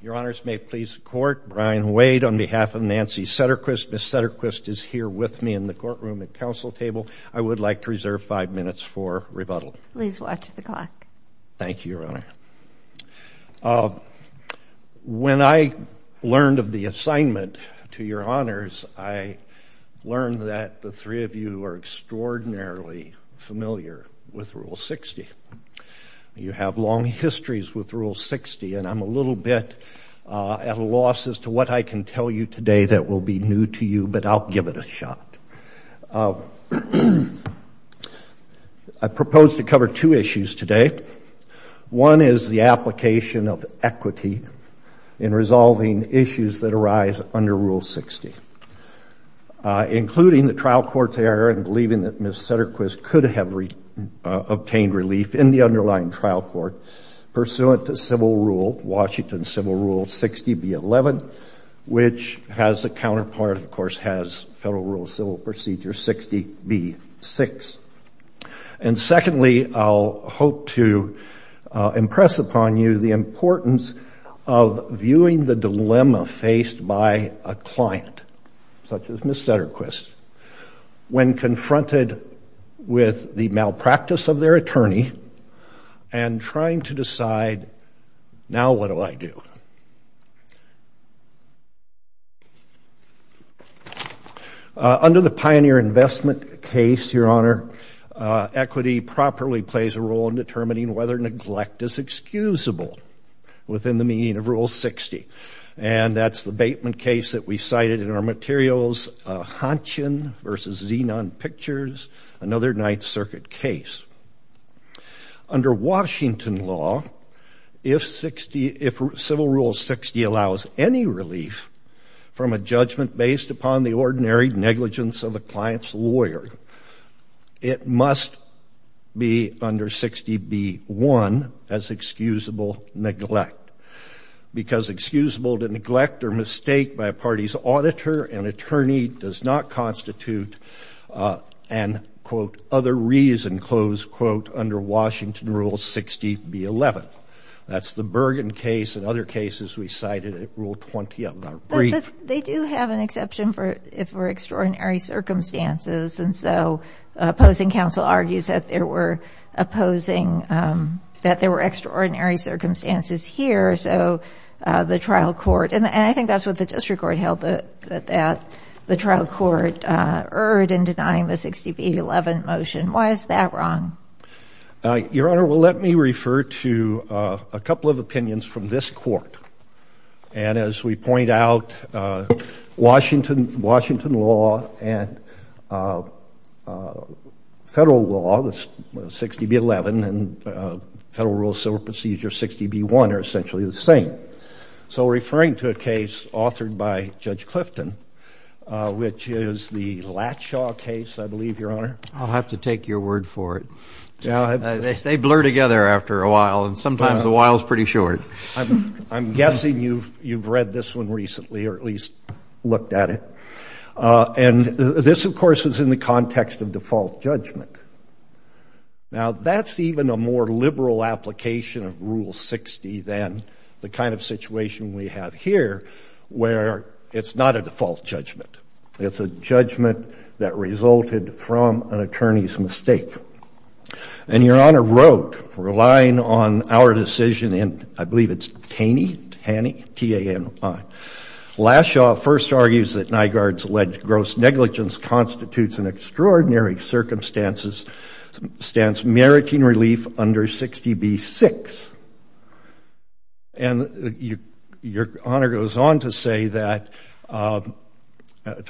Your Honors, may it please the Court, Brian Wade on behalf of Nancy Setterquist. Ms. Setterquist is here with me in the courtroom at Council Table. I would like to reserve five minutes for rebuttal. Please watch the clock. Thank you, Your Honor. When I learned of the assignment to Your Honors, I learned that the three of you are extraordinarily familiar with Rule 60. You have long histories with Rule 60, and I'm a little bit at a loss as to what I can tell you today that will be new to you, but I'll give it a shot. I propose to cover two issues today. One is the application of equity in resolving issues that arise under Rule 60, including the trial court's error in believing that Ms. Setterquist could have obtained relief in the underlying trial court pursuant to Washington Civil Rule 60B11, which has a counterpart, of course, has Federal Rule of Civil Procedure 60B6. And secondly, I'll hope to impress upon you the importance of viewing the dilemma faced by a client, such as Ms. Setterquist, when confronted with the malpractice of their attorney and trying to decide, now what do I do? Under the Pioneer Investment case, Your Honor, equity properly plays a role in determining whether neglect is excusable within the meaning of Rule 60, and that's the Bateman case that we cited in our materials, Honchin v. Zenon Pictures, another Ninth Circuit case. Under Washington law, if Civil Rule 60 allows any relief from a judgment based upon the one that's excusable, neglect, because excusable to neglect or mistake by a party's auditor and attorney does not constitute an, quote, other reason, close quote, under Washington Rule 60B11. That's the Bergen case and other cases we cited at Rule 20 of our brief. They do have an exception for extraordinary circumstances, and so opposing counsel argues that there were opposing, that there were extraordinary circumstances here. So the trial court, and I think that's what the district court held that the trial court erred in denying the 60B11 motion. Why is that wrong? Your Honor, well, let me refer to a couple of opinions from this court. And as we point out, Washington law and federal law, 60B11, and Federal Rule Civil Procedure 60B1 are essentially the same. So referring to a case authored by Judge Clifton, which is the Latshaw case, I believe, Your Honor. I'll have to take your word for it. They blur together after a while, and sometimes the while's pretty short. I'm guessing you've read this one recently, or at least looked at it. And this, of course, is in the context of default judgment. Now, that's even a more liberal application of Rule 60 than the kind of situation we have here, where it's not a default judgment. It's a judgment that resulted from an attorney's mistake. And Your Honor wrote, relying on our decision in, I believe it's Taney, T-A-N-E, Latshaw first argues that Nygard's alleged gross negligence constitutes an extraordinary circumstance meriting relief under 60B6. And Your Honor goes on to say that, to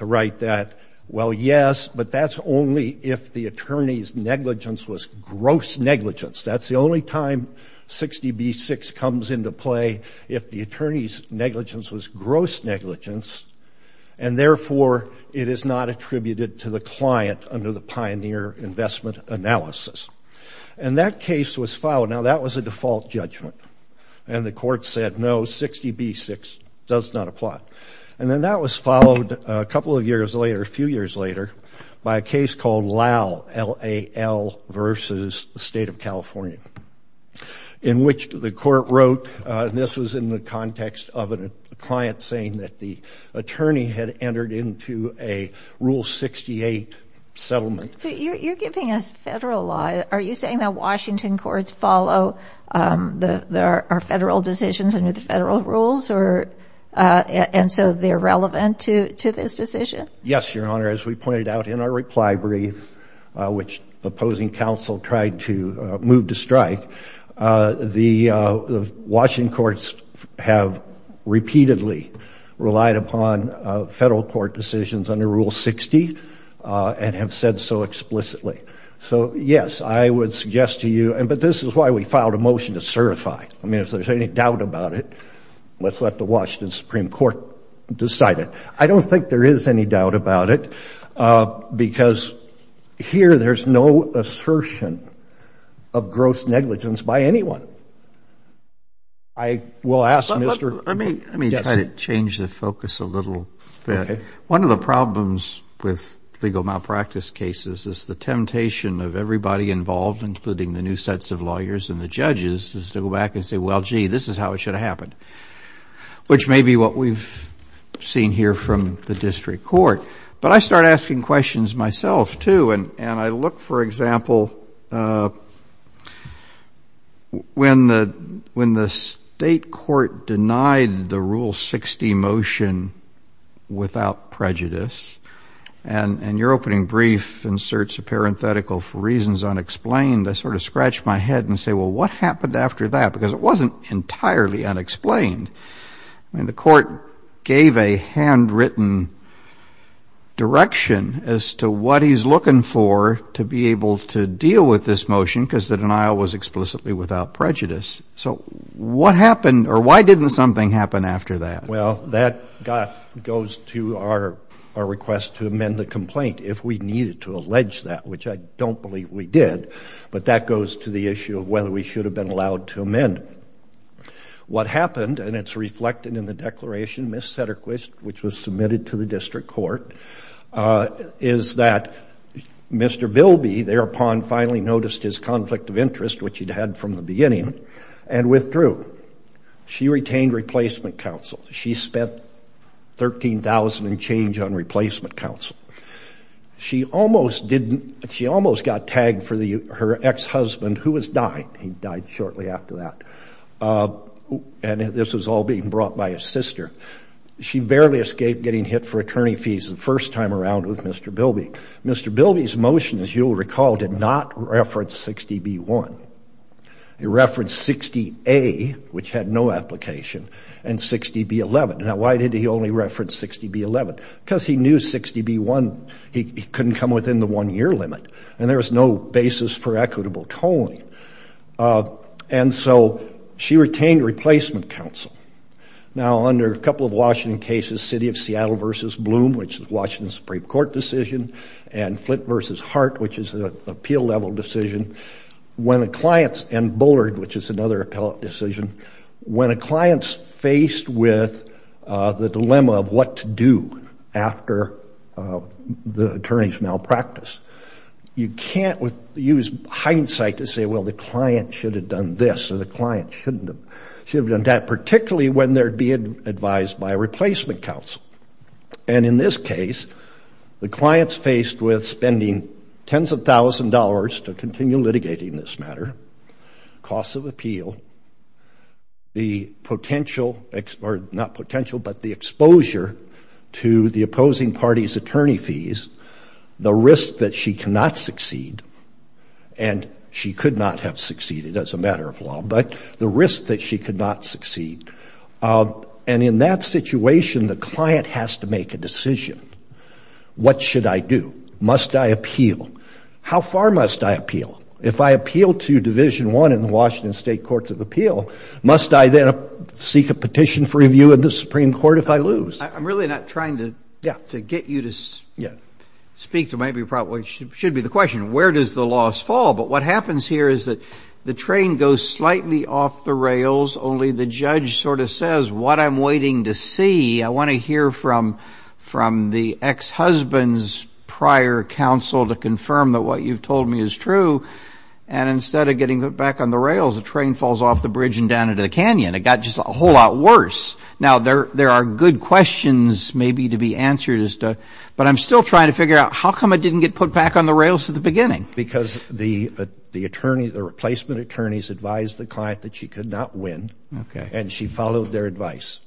write that, well, yes, but that's only if the attorney's negligence was gross negligence. That's the only time 60B6 comes into play if the attorney's negligence was gross negligence, and therefore, it is not attributed to the client under the pioneer investment analysis. And that case was filed. Now, that was a default judgment. And the court said, no, 60B6 does not apply. And then that was followed a couple of years later, a few years later, by a case called LAL, L-A-L, versus the State of California, in which the court wrote, and this was in the context of a client saying that the attorney had entered into a Rule 68 settlement. But you're giving us federal law. Are you saying that Washington courts follow our federal decisions under the federal rules and so they're relevant to this decision? Yes, Your Honor, as we pointed out in our reply brief, which the opposing counsel tried to move to strike, the Washington courts have repeatedly relied upon federal court decisions under Rule 60 and have said so explicitly. So yes, I would suggest to you, but this is why we filed a motion to certify. I mean, if there's any doubt about it, let's let the Washington Supreme Court decide it. I don't think there is any doubt about it, because here there's no assertion of gross negligence by anyone. I will ask Mr. Gessner. Let me try to change the focus a little bit. One of the problems with legal malpractice cases is the temptation of everybody involved, including the new sets of lawyers and the judges, is to go back and say, well, gee, this is how it should have happened, which may be what we've seen here from the district court. But I start asking questions myself, too, and I look, for example, when the state court denied the Rule 60 motion without prejudice, and your opening brief inserts a parenthetical for reasons unexplained, I sort of scratch my head and say, well, what happened after that? Because it wasn't entirely unexplained. I mean, the court gave a handwritten direction as to what he's looking for to be able to deal with this motion, because the denial was explicitly without prejudice. So what happened, or why didn't something happen after that? Well, that goes to our request to amend the complaint if we needed to allege that, which I don't believe we did, but that goes to the issue of whether we should have been allowed to amend it. What happened, and it's reflected in the declaration, Miss Satterquist, which was submitted to the district court, is that Mr. Bilby thereupon finally noticed his conflict of interest, which he'd had from the beginning, and withdrew. She retained replacement counsel. She spent $13,000 and change on replacement counsel. She almost got tagged for her ex-husband, who was dying. He died shortly after that. And this was all being brought by his sister. She barely escaped getting hit for attorney fees the first time around with Mr. Bilby. Mr. Bilby's motion, as you'll recall, did not reference 60B1. It referenced 60A, which had no application, and 60B11. Now why did he only reference 60B11? Because he knew 60B1 couldn't come within the one-year limit, and there was no basis for equitable tolling. And so she retained replacement counsel. Now under a couple of Washington cases, City of Seattle v. Bloom, which is a Washington Supreme Court decision, and Flint v. Hart, which is an appeal-level decision, and Bullard, which is another appellate decision, when a client's faced with the dilemma of what to do after the attorney's malpractice, you can't use hindsight to say, well, the client should have done this, or the client should have done that, particularly when they're being advised by a replacement counsel. And in this case, the client's faced with spending tens of thousands of dollars to continue the loss of appeal, the exposure to the opposing party's attorney fees, the risk that she cannot succeed, and she could not have succeeded as a matter of law, but the risk that she could not succeed. And in that situation, the client has to make a decision. What should I do? Must I appeal? How far must I appeal? If I appeal to Division I in the Washington State Courts of Appeal, must I then seek a petition for review in the Supreme Court if I lose? I'm really not trying to get you to speak to maybe, probably should be the question, where does the loss fall? But what happens here is that the train goes slightly off the rails, only the judge sort of says, what I'm waiting to see, I want to hear from the ex-husband's prior counsel to and instead of getting put back on the rails, the train falls off the bridge and down into the canyon. It got just a whole lot worse. Now there are good questions maybe to be answered as to, but I'm still trying to figure out how come I didn't get put back on the rails at the beginning? Because the attorney, the replacement attorney's advised the client that she could not win and she followed their advice.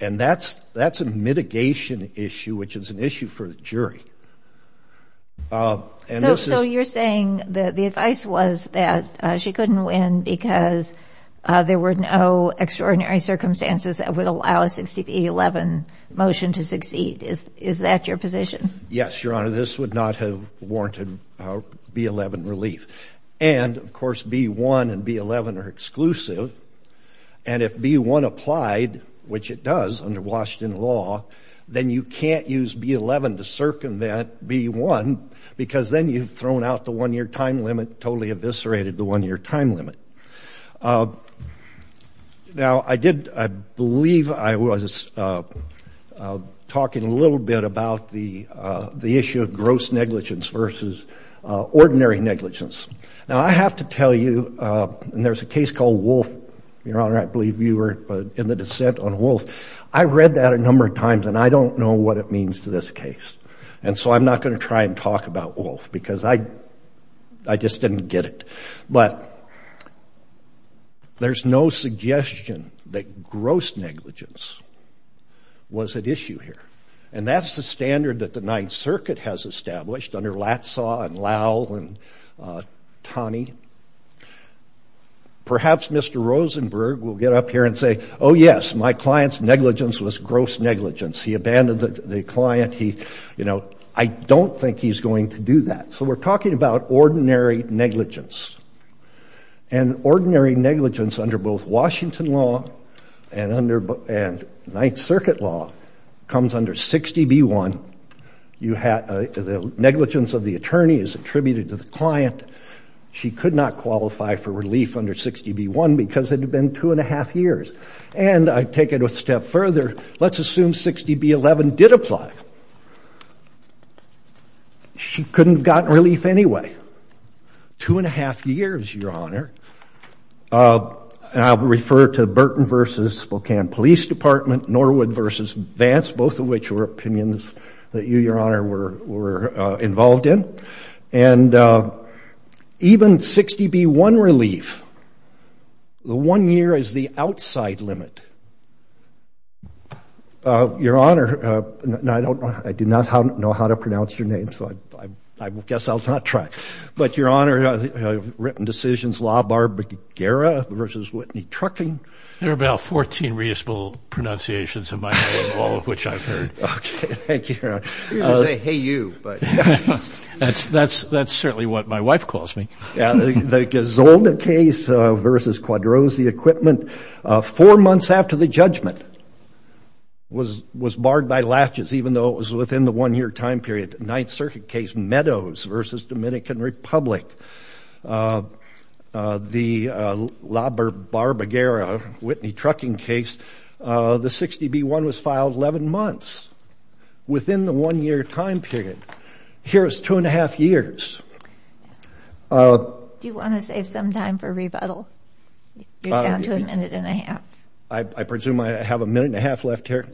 And that's a mitigation issue, which is an issue for the jury. So you're saying that the advice was that she couldn't win because there were no extraordinary circumstances that would allow a 60 B-11 motion to succeed, is that your position? Yes, Your Honor, this would not have warranted B-11 relief. And of course, B-1 and B-11 are exclusive, and if B-1 applied, which it does under Washington law, then you can't use B-11 to circumvent B-1 because then you've thrown out the one year time limit, totally eviscerated the one year time limit. Now I did, I believe I was talking a little bit about the issue of gross negligence versus ordinary negligence. Now I have to tell you, and there's a case called Wolf, Your Honor, I believe you were in the dissent on Wolf. I've read that a number of times and I don't know what it means to this case. And so I'm not going to try and talk about Wolf because I just didn't get it. But there's no suggestion that gross negligence was at issue here. And that's the standard that the Ninth Circuit has established under Latsaw and Lowell and Taney. Perhaps Mr. Rosenberg will get up here and say, oh yes, my client's negligence was gross negligence. He abandoned the client, he, you know, I don't think he's going to do that. So we're talking about ordinary negligence. And ordinary negligence under both Washington law and Ninth Circuit law comes under 60B-1. You have the negligence of the attorney is attributed to the client. She could not qualify for relief under 60B-1 because it had been two and a half years. And I take it a step further. Let's assume 60B-11 did apply. She couldn't have gotten relief anyway. Two and a half years, Your Honor, and I'll refer to Burton v. Spokane Police Department, Norwood v. Vance, both of which were opinions that you, Your Honor, were involved in. And even 60B-1 relief, the one year is the outside limit. Your Honor, I do not know how to pronounce your name, so I guess I'll not try. But Your Honor, written decisions, LaBarbera v. Whitney Trucking. There are about 14 reasonable pronunciations in my head, all of which I've heard. Okay, thank you, Your Honor. I usually say, hey you, but- That's certainly what my wife calls me. Yeah, the Gazzolda case versus Quadrosi Equipment, four months after the judgment was barred by latches, even though it was within the one year time period. Ninth Circuit case, Meadows v. Dominican Republic. The LaBarbera, Whitney Trucking case, the 60B-1 was filed 11 months. Within the one year time period, here is two and a half years. Do you want to save some time for rebuttal? You're down to a minute and a half. I presume I have a minute and a half left here?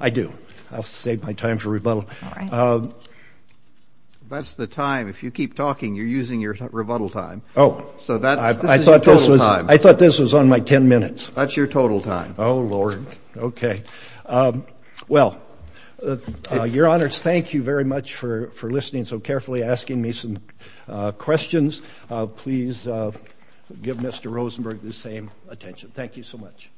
I do. I'll save my time for rebuttal. That's the time. If you keep talking, you're using your rebuttal time. So this is your total time. I thought this was on my ten minutes. That's your total time. Oh, Lord. Okay. Well, Your Honors, thank you very much for listening so carefully, asking me some questions. Please give Mr. Rosenberg the same attention. Thank you so much.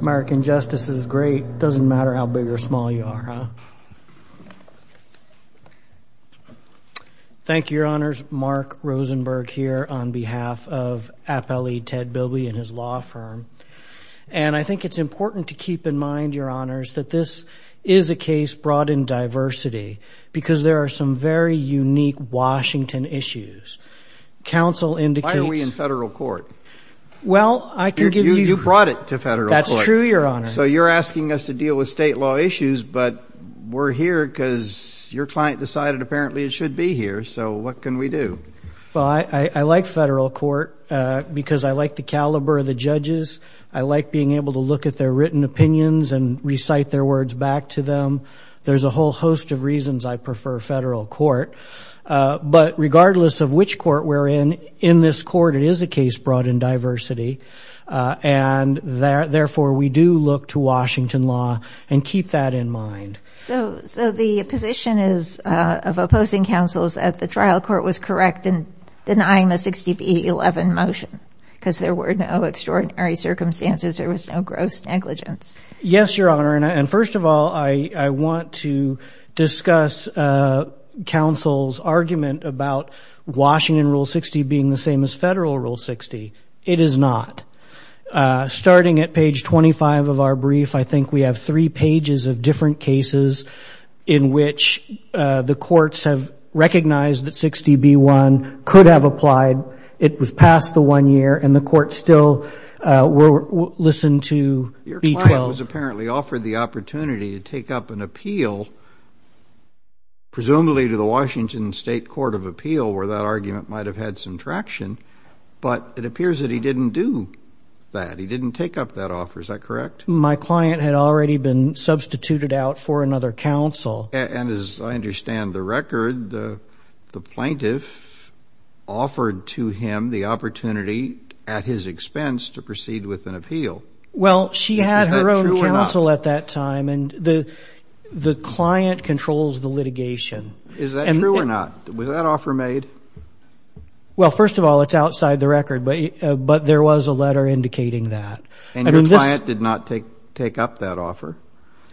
American justice is great. Doesn't matter how big or small you are, huh? Thank you, Your Honors. Mark Rosenberg here on behalf of Appellee Ted Bilby and his law firm. And I think it's important to keep in mind, Your Honors, that this is a case brought in diversity because there are some very unique Washington issues. Council indicates- Why are we in federal court? Well, I can give you- You brought it to federal court. That's true, Your Honor. So you're asking us to deal with state law issues, but we're here because your client decided apparently it should be here. So what can we do? Well, I like federal court because I like the caliber of the judges. I like being able to look at their written opinions and recite their words back to them. There's a whole host of reasons I prefer federal court. But regardless of which court we're in, in this court, it is a case brought in diversity. And therefore, we do look to Washington law and keep that in mind. So the position is of opposing counsels that the trial court was correct in denying the 60 v. 11 motion because there were no extraordinary circumstances. There was no gross negligence. Yes, Your Honor. And first of all, I want to discuss counsel's argument about Washington Rule 60 being the same as federal Rule 60. It is not. Starting at page 25 of our brief, I think we have three pages of different cases in which the courts have recognized that 60 v. 1 could have applied. It was past the one year, and the court still listened to v. 12. Your client was apparently offered the opportunity to take up an appeal, presumably to the Washington State Court of Appeal, where that argument might have had some traction. But it appears that he didn't do that. He didn't take up that offer. Is that correct? My client had already been substituted out for another counsel. And as I understand the record, the plaintiff offered to him the opportunity at his expense to proceed with an appeal. Well, she had her own counsel at that time. And the client controls the litigation. Is that true or not? Was that offer made? Well, first of all, it's outside the record. But there was a letter indicating that. And your client did not take up that offer.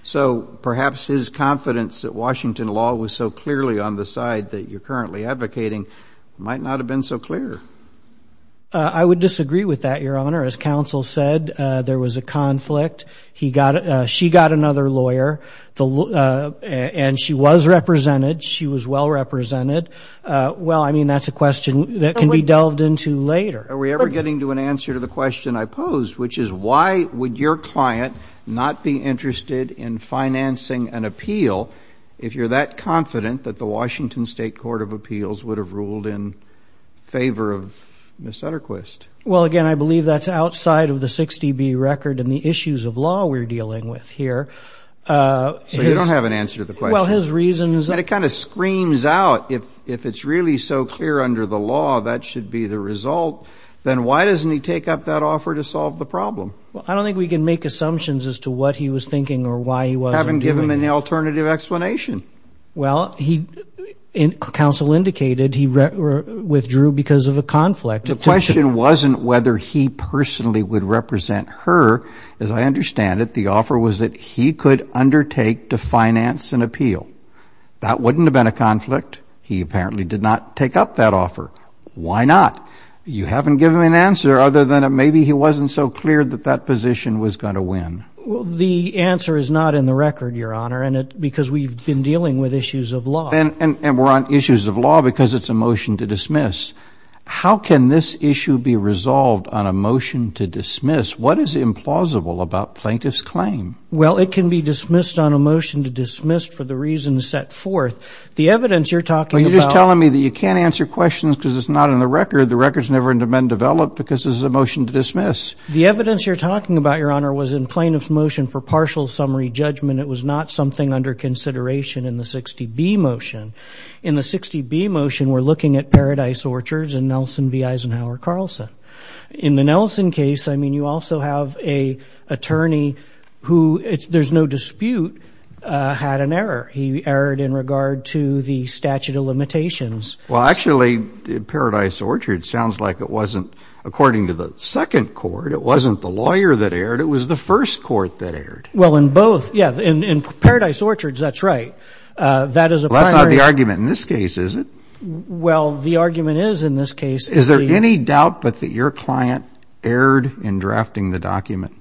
So perhaps his confidence that Washington law was so clearly on the side that you're currently advocating might not have been so clear. I would disagree with that, Your Honor. As counsel said, there was a conflict. She got another lawyer. And she was represented. She was well represented. Well, I mean, that's a question that can be delved into later. Are we ever getting to an answer to the question I posed, which is why would your client not be interested in financing an appeal if you're that confident that the Washington State Court of Appeals would have ruled in favor of Ms. Sutterquist? Well, again, I believe that's outside of the 60B record and the issues of law we're dealing with here. So you don't have an answer to the question. Well, his reasons are. And it kind of screams out, if it's really so clear under the law that should be the result, then why doesn't he take up that offer to solve the problem? Well, I don't think we can make assumptions as to what he was thinking or why he wasn't doing it. You haven't given him an alternative explanation. Well, counsel indicated he withdrew because of a conflict. The question wasn't whether he personally would represent her. As I understand it, the offer was that he could undertake to finance an appeal. That wouldn't have been a conflict. He apparently did not take up that offer. Why not? You haven't given him an answer other than maybe he wasn't so clear that that position was going to win. Well, the answer is not in the record, Your Honor, because we've been dealing with issues of law. And we're on issues of law because it's a motion to dismiss. How can this issue be resolved on a motion to dismiss? What is implausible about plaintiff's claim? Well, it can be dismissed on a motion to dismiss for the reasons set forth. The evidence you're talking about. Well, you're just telling me that you can't answer questions because it's not in the record. The record's never been developed because this is a motion to dismiss. The evidence you're talking about, Your Honor, was in plaintiff's motion for partial summary judgment. It was not something under consideration in the 60B motion. In the 60B motion, we're looking at Paradise Orchards and Nelson v. Eisenhower Carlson. In the Nelson case, I mean, you also have an attorney who, there's no dispute, had an error. He erred in regard to the statute of limitations. Well, actually, Paradise Orchards sounds like it wasn't according to the second court. It wasn't the lawyer that erred. It was the first court that erred. Well, in both. Yeah, in Paradise Orchards, that's right. That is a primary. That's not the argument in this case, is it? Well, the argument is in this case. Is there any doubt but that your client erred in drafting the document?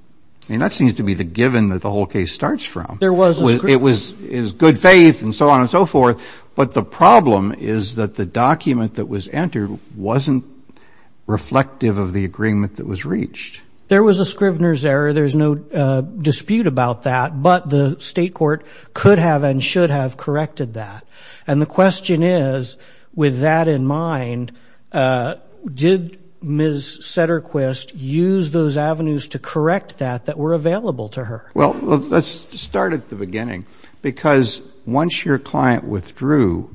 And that seems to be the given that the whole case starts from. There was a scrivener. It was good faith, and so on and so forth. But the problem is that the document that was entered wasn't reflective of the agreement that was reached. There was a scrivener's error. There's no dispute about that. But the state court could have and should have corrected that. And the question is, with that in mind, did Ms. Satterquist use those avenues to correct that that were available to her? Well, let's start at the beginning. Because once your client withdrew,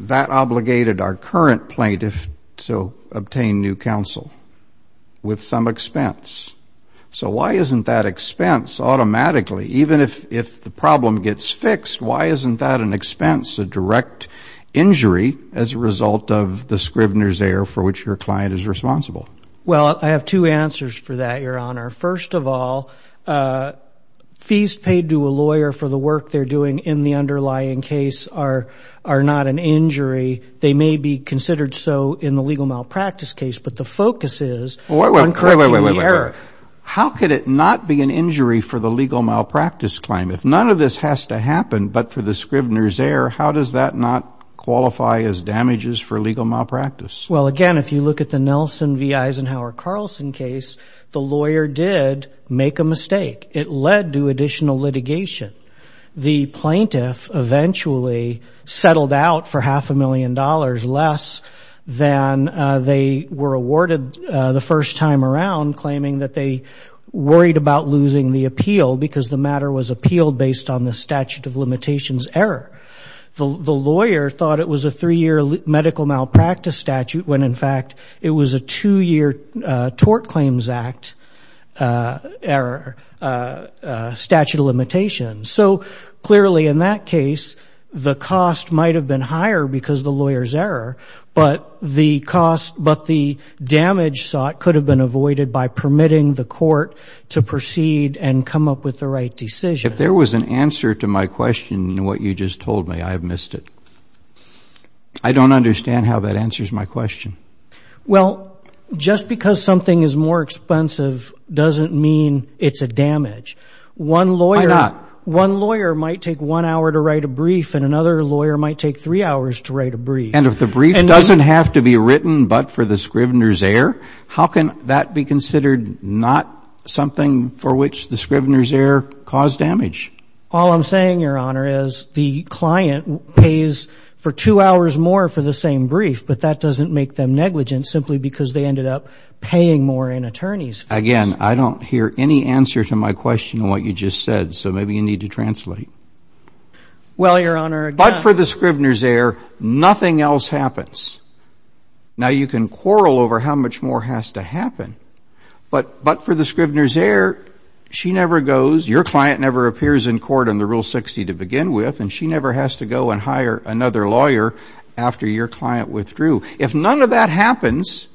that obligated our current plaintiff to obtain new counsel with some expense. So why isn't that expense automatically, even if the problem gets fixed, why isn't that an expense, a direct injury as a result of the scrivener's error for which your client is responsible? Well, I have two answers for that, Your Honor. First of all, fees paid to a lawyer for the work they're doing in the underlying case are not an injury. They may be considered so in the legal malpractice case. But the focus is on correcting the error. How could it not be an injury for the legal malpractice If none of this has to happen but for the scrivener's error, how does that not qualify as damages for legal malpractice? Well, again, if you look at the Nelson v. Eisenhower Carlson case, the lawyer did make a mistake. It led to additional litigation. The plaintiff eventually settled out for half a million dollars less than they were awarded the first time around, claiming that they worried about losing the appeal because the matter was appealed based on the statute of limitations error. The lawyer thought it was a three-year medical malpractice statute when, in fact, it was a two-year Tort Claims Act error statute of limitations. So clearly, in that case, the cost might have been higher because of the lawyer's error. But the damage sought could have been avoided by permitting the court to proceed and come up with the right decision. If there was an answer to my question in what you just told me, I have missed it. I don't understand how that answers my question. Well, just because something is more expensive doesn't mean it's a damage. One lawyer might take one hour to write a brief, and another lawyer might take three hours to write a brief. And if the brief doesn't have to be written but for the scrivener's error, how can that be considered not something for which the scrivener's error caused damage? All I'm saying, Your Honor, is the client pays for two hours more for the same brief, but that doesn't make them negligent simply because they ended up paying more in attorney's fees. Again, I don't hear any answer to my question in what you just said. So maybe you need to translate. Well, Your Honor, but for the scrivener's error, nothing else happens. Now, you can quarrel over how much more has to happen. But for the scrivener's error, she never goes. Your client never appears in court on the Rule 60 to begin with. And she never has to go and hire another lawyer after your client withdrew. If none of that happens,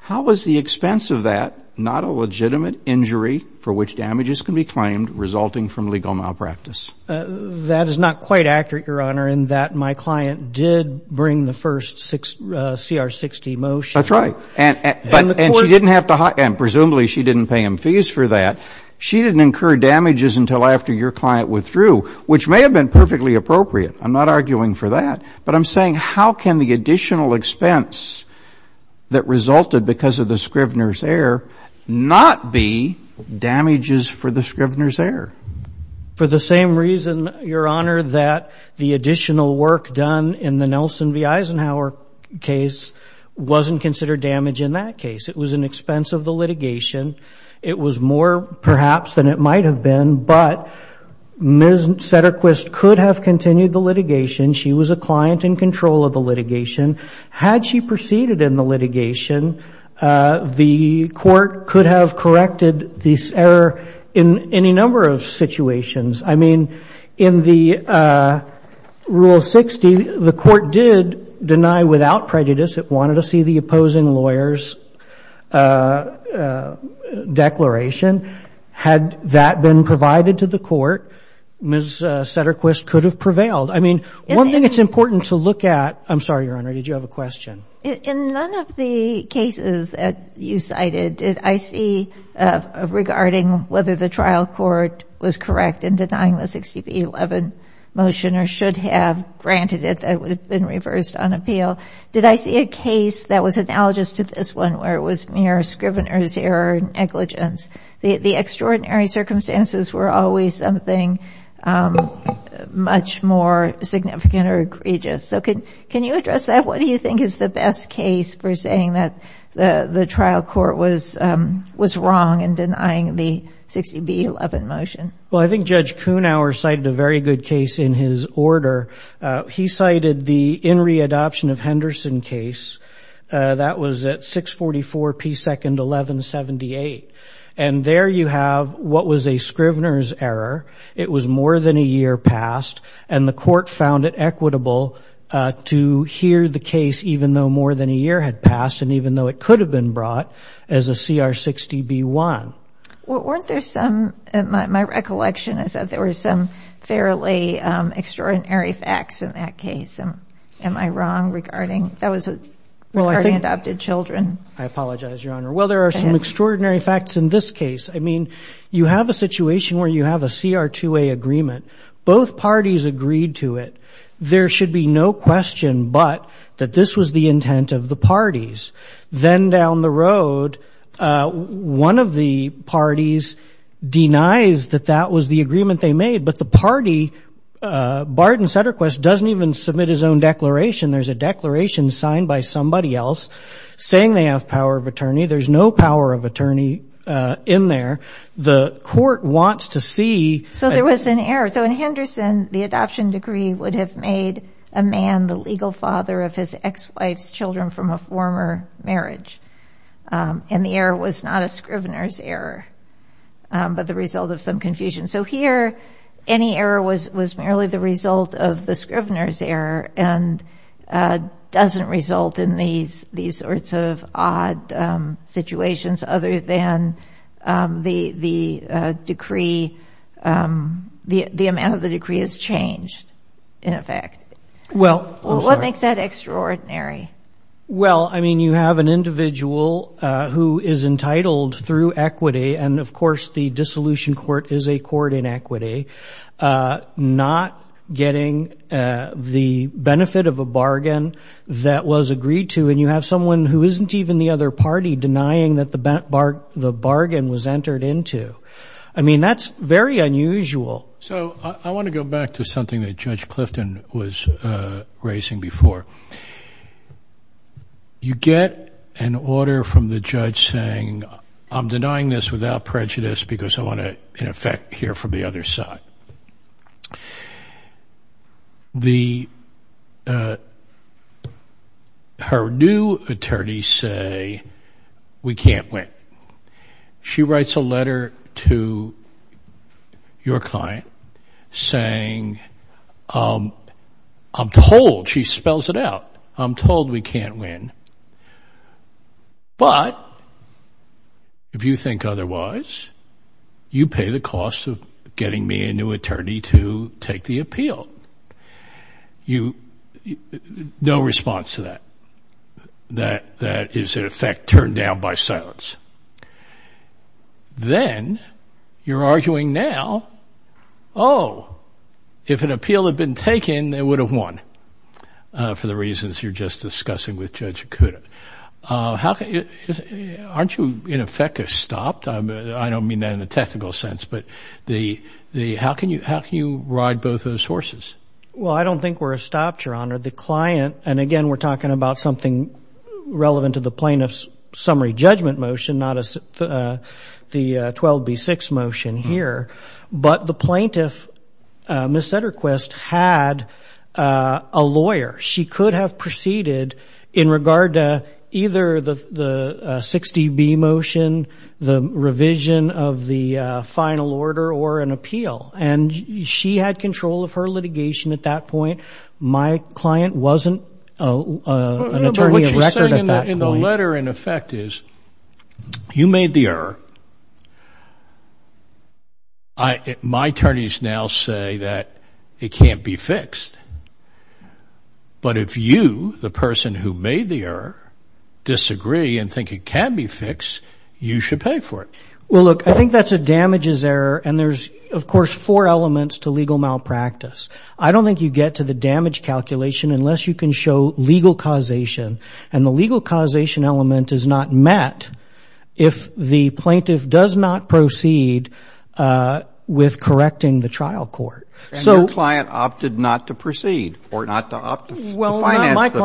how is the expense of that not a legitimate injury for which damages can be claimed resulting from legal malpractice? That is not quite accurate, Your Honor, in that my client did bring the first CR 60 motion. That's right. And she didn't have to hire. And presumably, she didn't pay him fees for that. She didn't incur damages until after your client withdrew, which may have been perfectly appropriate. I'm not arguing for that. But I'm saying, how can the additional expense that resulted because of the scrivener's error not be damages for the scrivener's error? For the same reason, Your Honor, that the additional work done in the Nelson v. Eisenhower case wasn't considered damage in that case. It was an expense of the litigation. It was more, perhaps, than it might have been. But Ms. Satterquist could have continued the litigation. She was a client in control of the litigation. Had she proceeded in the litigation, the court could have corrected this error in any number of situations. I mean, in the Rule 60, the court did deny without prejudice. It wanted to see the opposing lawyer's declaration. Had that been provided to the court, Ms. Satterquist could have prevailed. I mean, one thing it's important to look at. I'm sorry, Your Honor, did you have a question? In none of the cases that you cited did I see regarding whether the trial court was correct in denying the 60 v. 11 motion or should have granted it that it would have been reversed on appeal. Did I see a case that was analogous to this one where it was mere scrivener's error and negligence? The extraordinary circumstances were always something much more significant or egregious. So can you address that? What do you think is the best case for saying that the trial court was wrong in denying the 60 v. 11 motion? Well, I think Judge Kuhnhauer cited a very good case in his order. He cited the In Readoption of Henderson case. That was at 644 P. 2nd, 1178. And there you have what was a scrivener's error. It was more than a year past. And the court found it equitable to hear the case even though more than a year had passed and even though it could have been brought as a CR 60 B1. Well, weren't there some, in my recollection, I said there were some fairly extraordinary facts in that case. Am I wrong regarding? That was regarding adopted children. I apologize, Your Honor. Well, there are some extraordinary facts in this case. I mean, you have a situation where you have a CR 2A agreement. Both parties agreed to it. There should be no question but that this was the intent of the parties. Then down the road, one of the parties denies that that was the agreement they made. But the party, Bard and Sutterquist, doesn't even submit his own declaration. There's a declaration signed by somebody else saying they have power of attorney. There's no power of attorney in there. The court wants to see. So there was an error. So in Henderson, the adoption decree would have made a man the legal father of his ex-wife's children from a former marriage. And the error was not a scrivener's error but the result of some confusion. So here, any error was merely the result of the scrivener's error. And doesn't result in these sorts of odd situations other than the amount of the decree has changed, in effect. Well, I'm sorry. What makes that extraordinary? Well, I mean, you have an individual who is entitled through equity. Not getting the benefit of a bargain that was agreed to. And you have someone who isn't even the other party denying that the bargain was entered into. I mean, that's very unusual. So I want to go back to something that Judge Clifton was raising before. You get an order from the judge saying, I'm denying this without prejudice because I want to, in effect, hear from the other side. Her new attorneys say, we can't win. She writes a letter to your client saying, I'm told, she spells it out, I'm told we can't win. But if you think otherwise, you pay the cost of getting me a new attorney to take the appeal. No response to that. That is, in effect, turned down by silence. Then you're arguing now, oh, if an appeal had been taken, they would have won for the reasons you're just discussing with Judge Akuta. Aren't you, in effect, stopped? I don't mean that in a technical sense, but how can you ride both those horses? Well, I don't think we're stopped, Your Honor. And again, we're talking about something relevant to the plaintiff's summary judgment motion, not the 12B6 motion here. But the plaintiff, Ms. Zetterquist, had a lawyer. She could have proceeded in regard to either the 6DB motion, the revision of the final order, or an appeal. And she had control of her litigation at that point. My client wasn't an attorney of record at that point. But what she's saying in the letter, in effect, is you made the error. My attorneys now say that it can't be fixed. But if you, the person who made the error, disagree and think it can be fixed, you should pay for it. Well, look, I think that's a damages error. And there's, of course, four elements to legal malpractice. I don't think you get to the damage calculation unless you can show legal causation. met if the plaintiff's summary judgment does not proceed with correcting the trial court. So your client opted not to proceed, or not to opt to finance the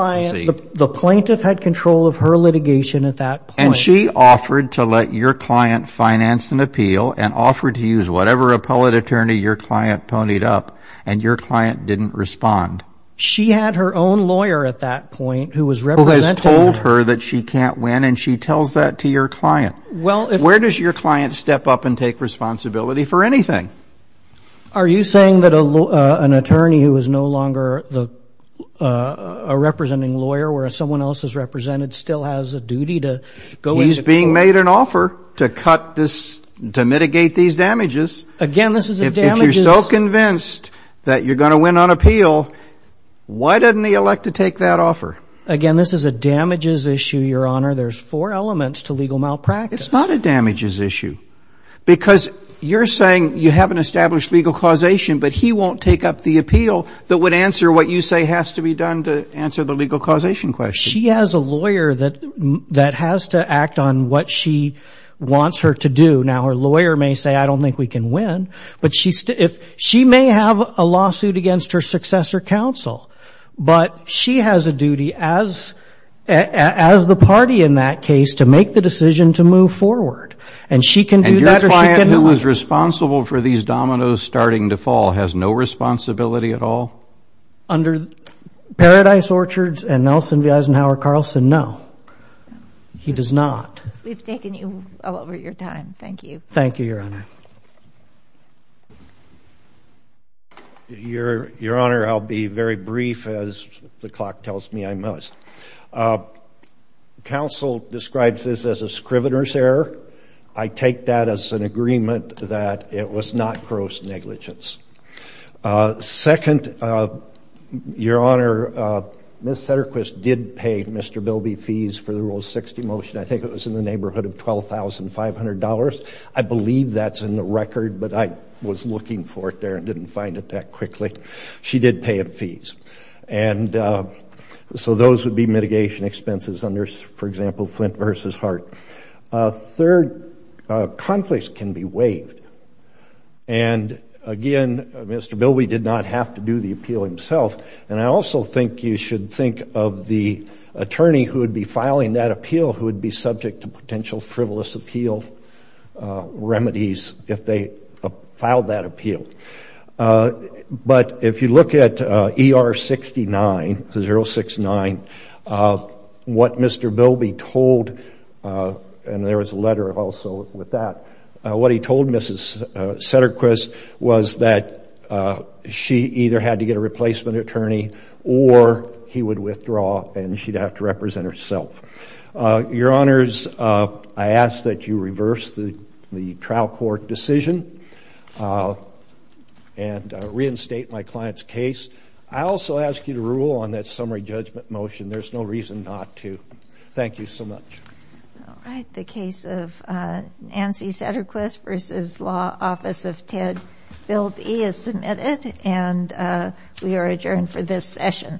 proceed. The plaintiff had control of her litigation at that point. And she offered to let your client finance an appeal, and offered to use whatever appellate attorney your client ponied up. And your client didn't respond. She had her own lawyer at that point who was representing her. Who has told her that she can't win. And she tells that to your client. Where does your client step up and take responsibility for anything? Are you saying that an attorney who is no longer a representing lawyer, where someone else is represented, still has a duty to go into court? He's being made an offer to cut this, to mitigate these damages. Again, this is a damages. If you're so convinced that you're going to win on appeal, why didn't he elect to take that offer? Again, this is a damages issue, Your Honor. There's four elements to legal malpractice. It's not a damages issue. Because you're saying you haven't established legal causation, but he won't take up the appeal that would answer what you say has to be done to answer the legal causation question. She has a lawyer that has to act on what she wants her to do. Now, her lawyer may say, I don't think we can win. But she may have a lawsuit against her successor counsel. But she has a duty, as the party in that case, to make the decision to move forward. And she can do that, or she can not. And your client, who is responsible for these dominoes starting to fall, has no responsibility at all? Under Paradise Orchards and Nelson V. Eisenhower Carlson, no, he does not. We've taken you all over your time. Thank you. Thank you, Your Honor. Thank you. Your Honor, I'll be very brief, as the clock tells me I must. Counsel describes this as a scrivener's error. I take that as an agreement that it was not gross negligence. Second, Your Honor, Ms. Satterquist did pay Mr. Bilby fees for the Rule 60 motion. I think it was in the neighborhood of $12,500. I believe that's in the record, but I was looking for it there and didn't find it that quickly. She did pay him fees. And so those would be mitigation expenses under, for example, Flint v. Hart. Third, conflicts can be waived. And again, Mr. Bilby did not have to do the appeal himself. And I also think you should think of the attorney who would be filing that appeal who would be subject to potential frivolous appeal remedies if they filed that appeal. But if you look at ER 69, 069, what Mr. Bilby told, and there was a letter also with that, what he told Mrs. Satterquist was that she either had to get a replacement attorney or he would withdraw and she'd have to represent herself. Your Honors, I ask that you reverse the trial court decision and reinstate my client's case. I also ask you to rule on that summary judgment motion. There's no reason not to. Thank you so much. The case of Nancy Satterquist v. Law, Office of Ted Bilby is submitted, and we are adjourned for this session. Thank you.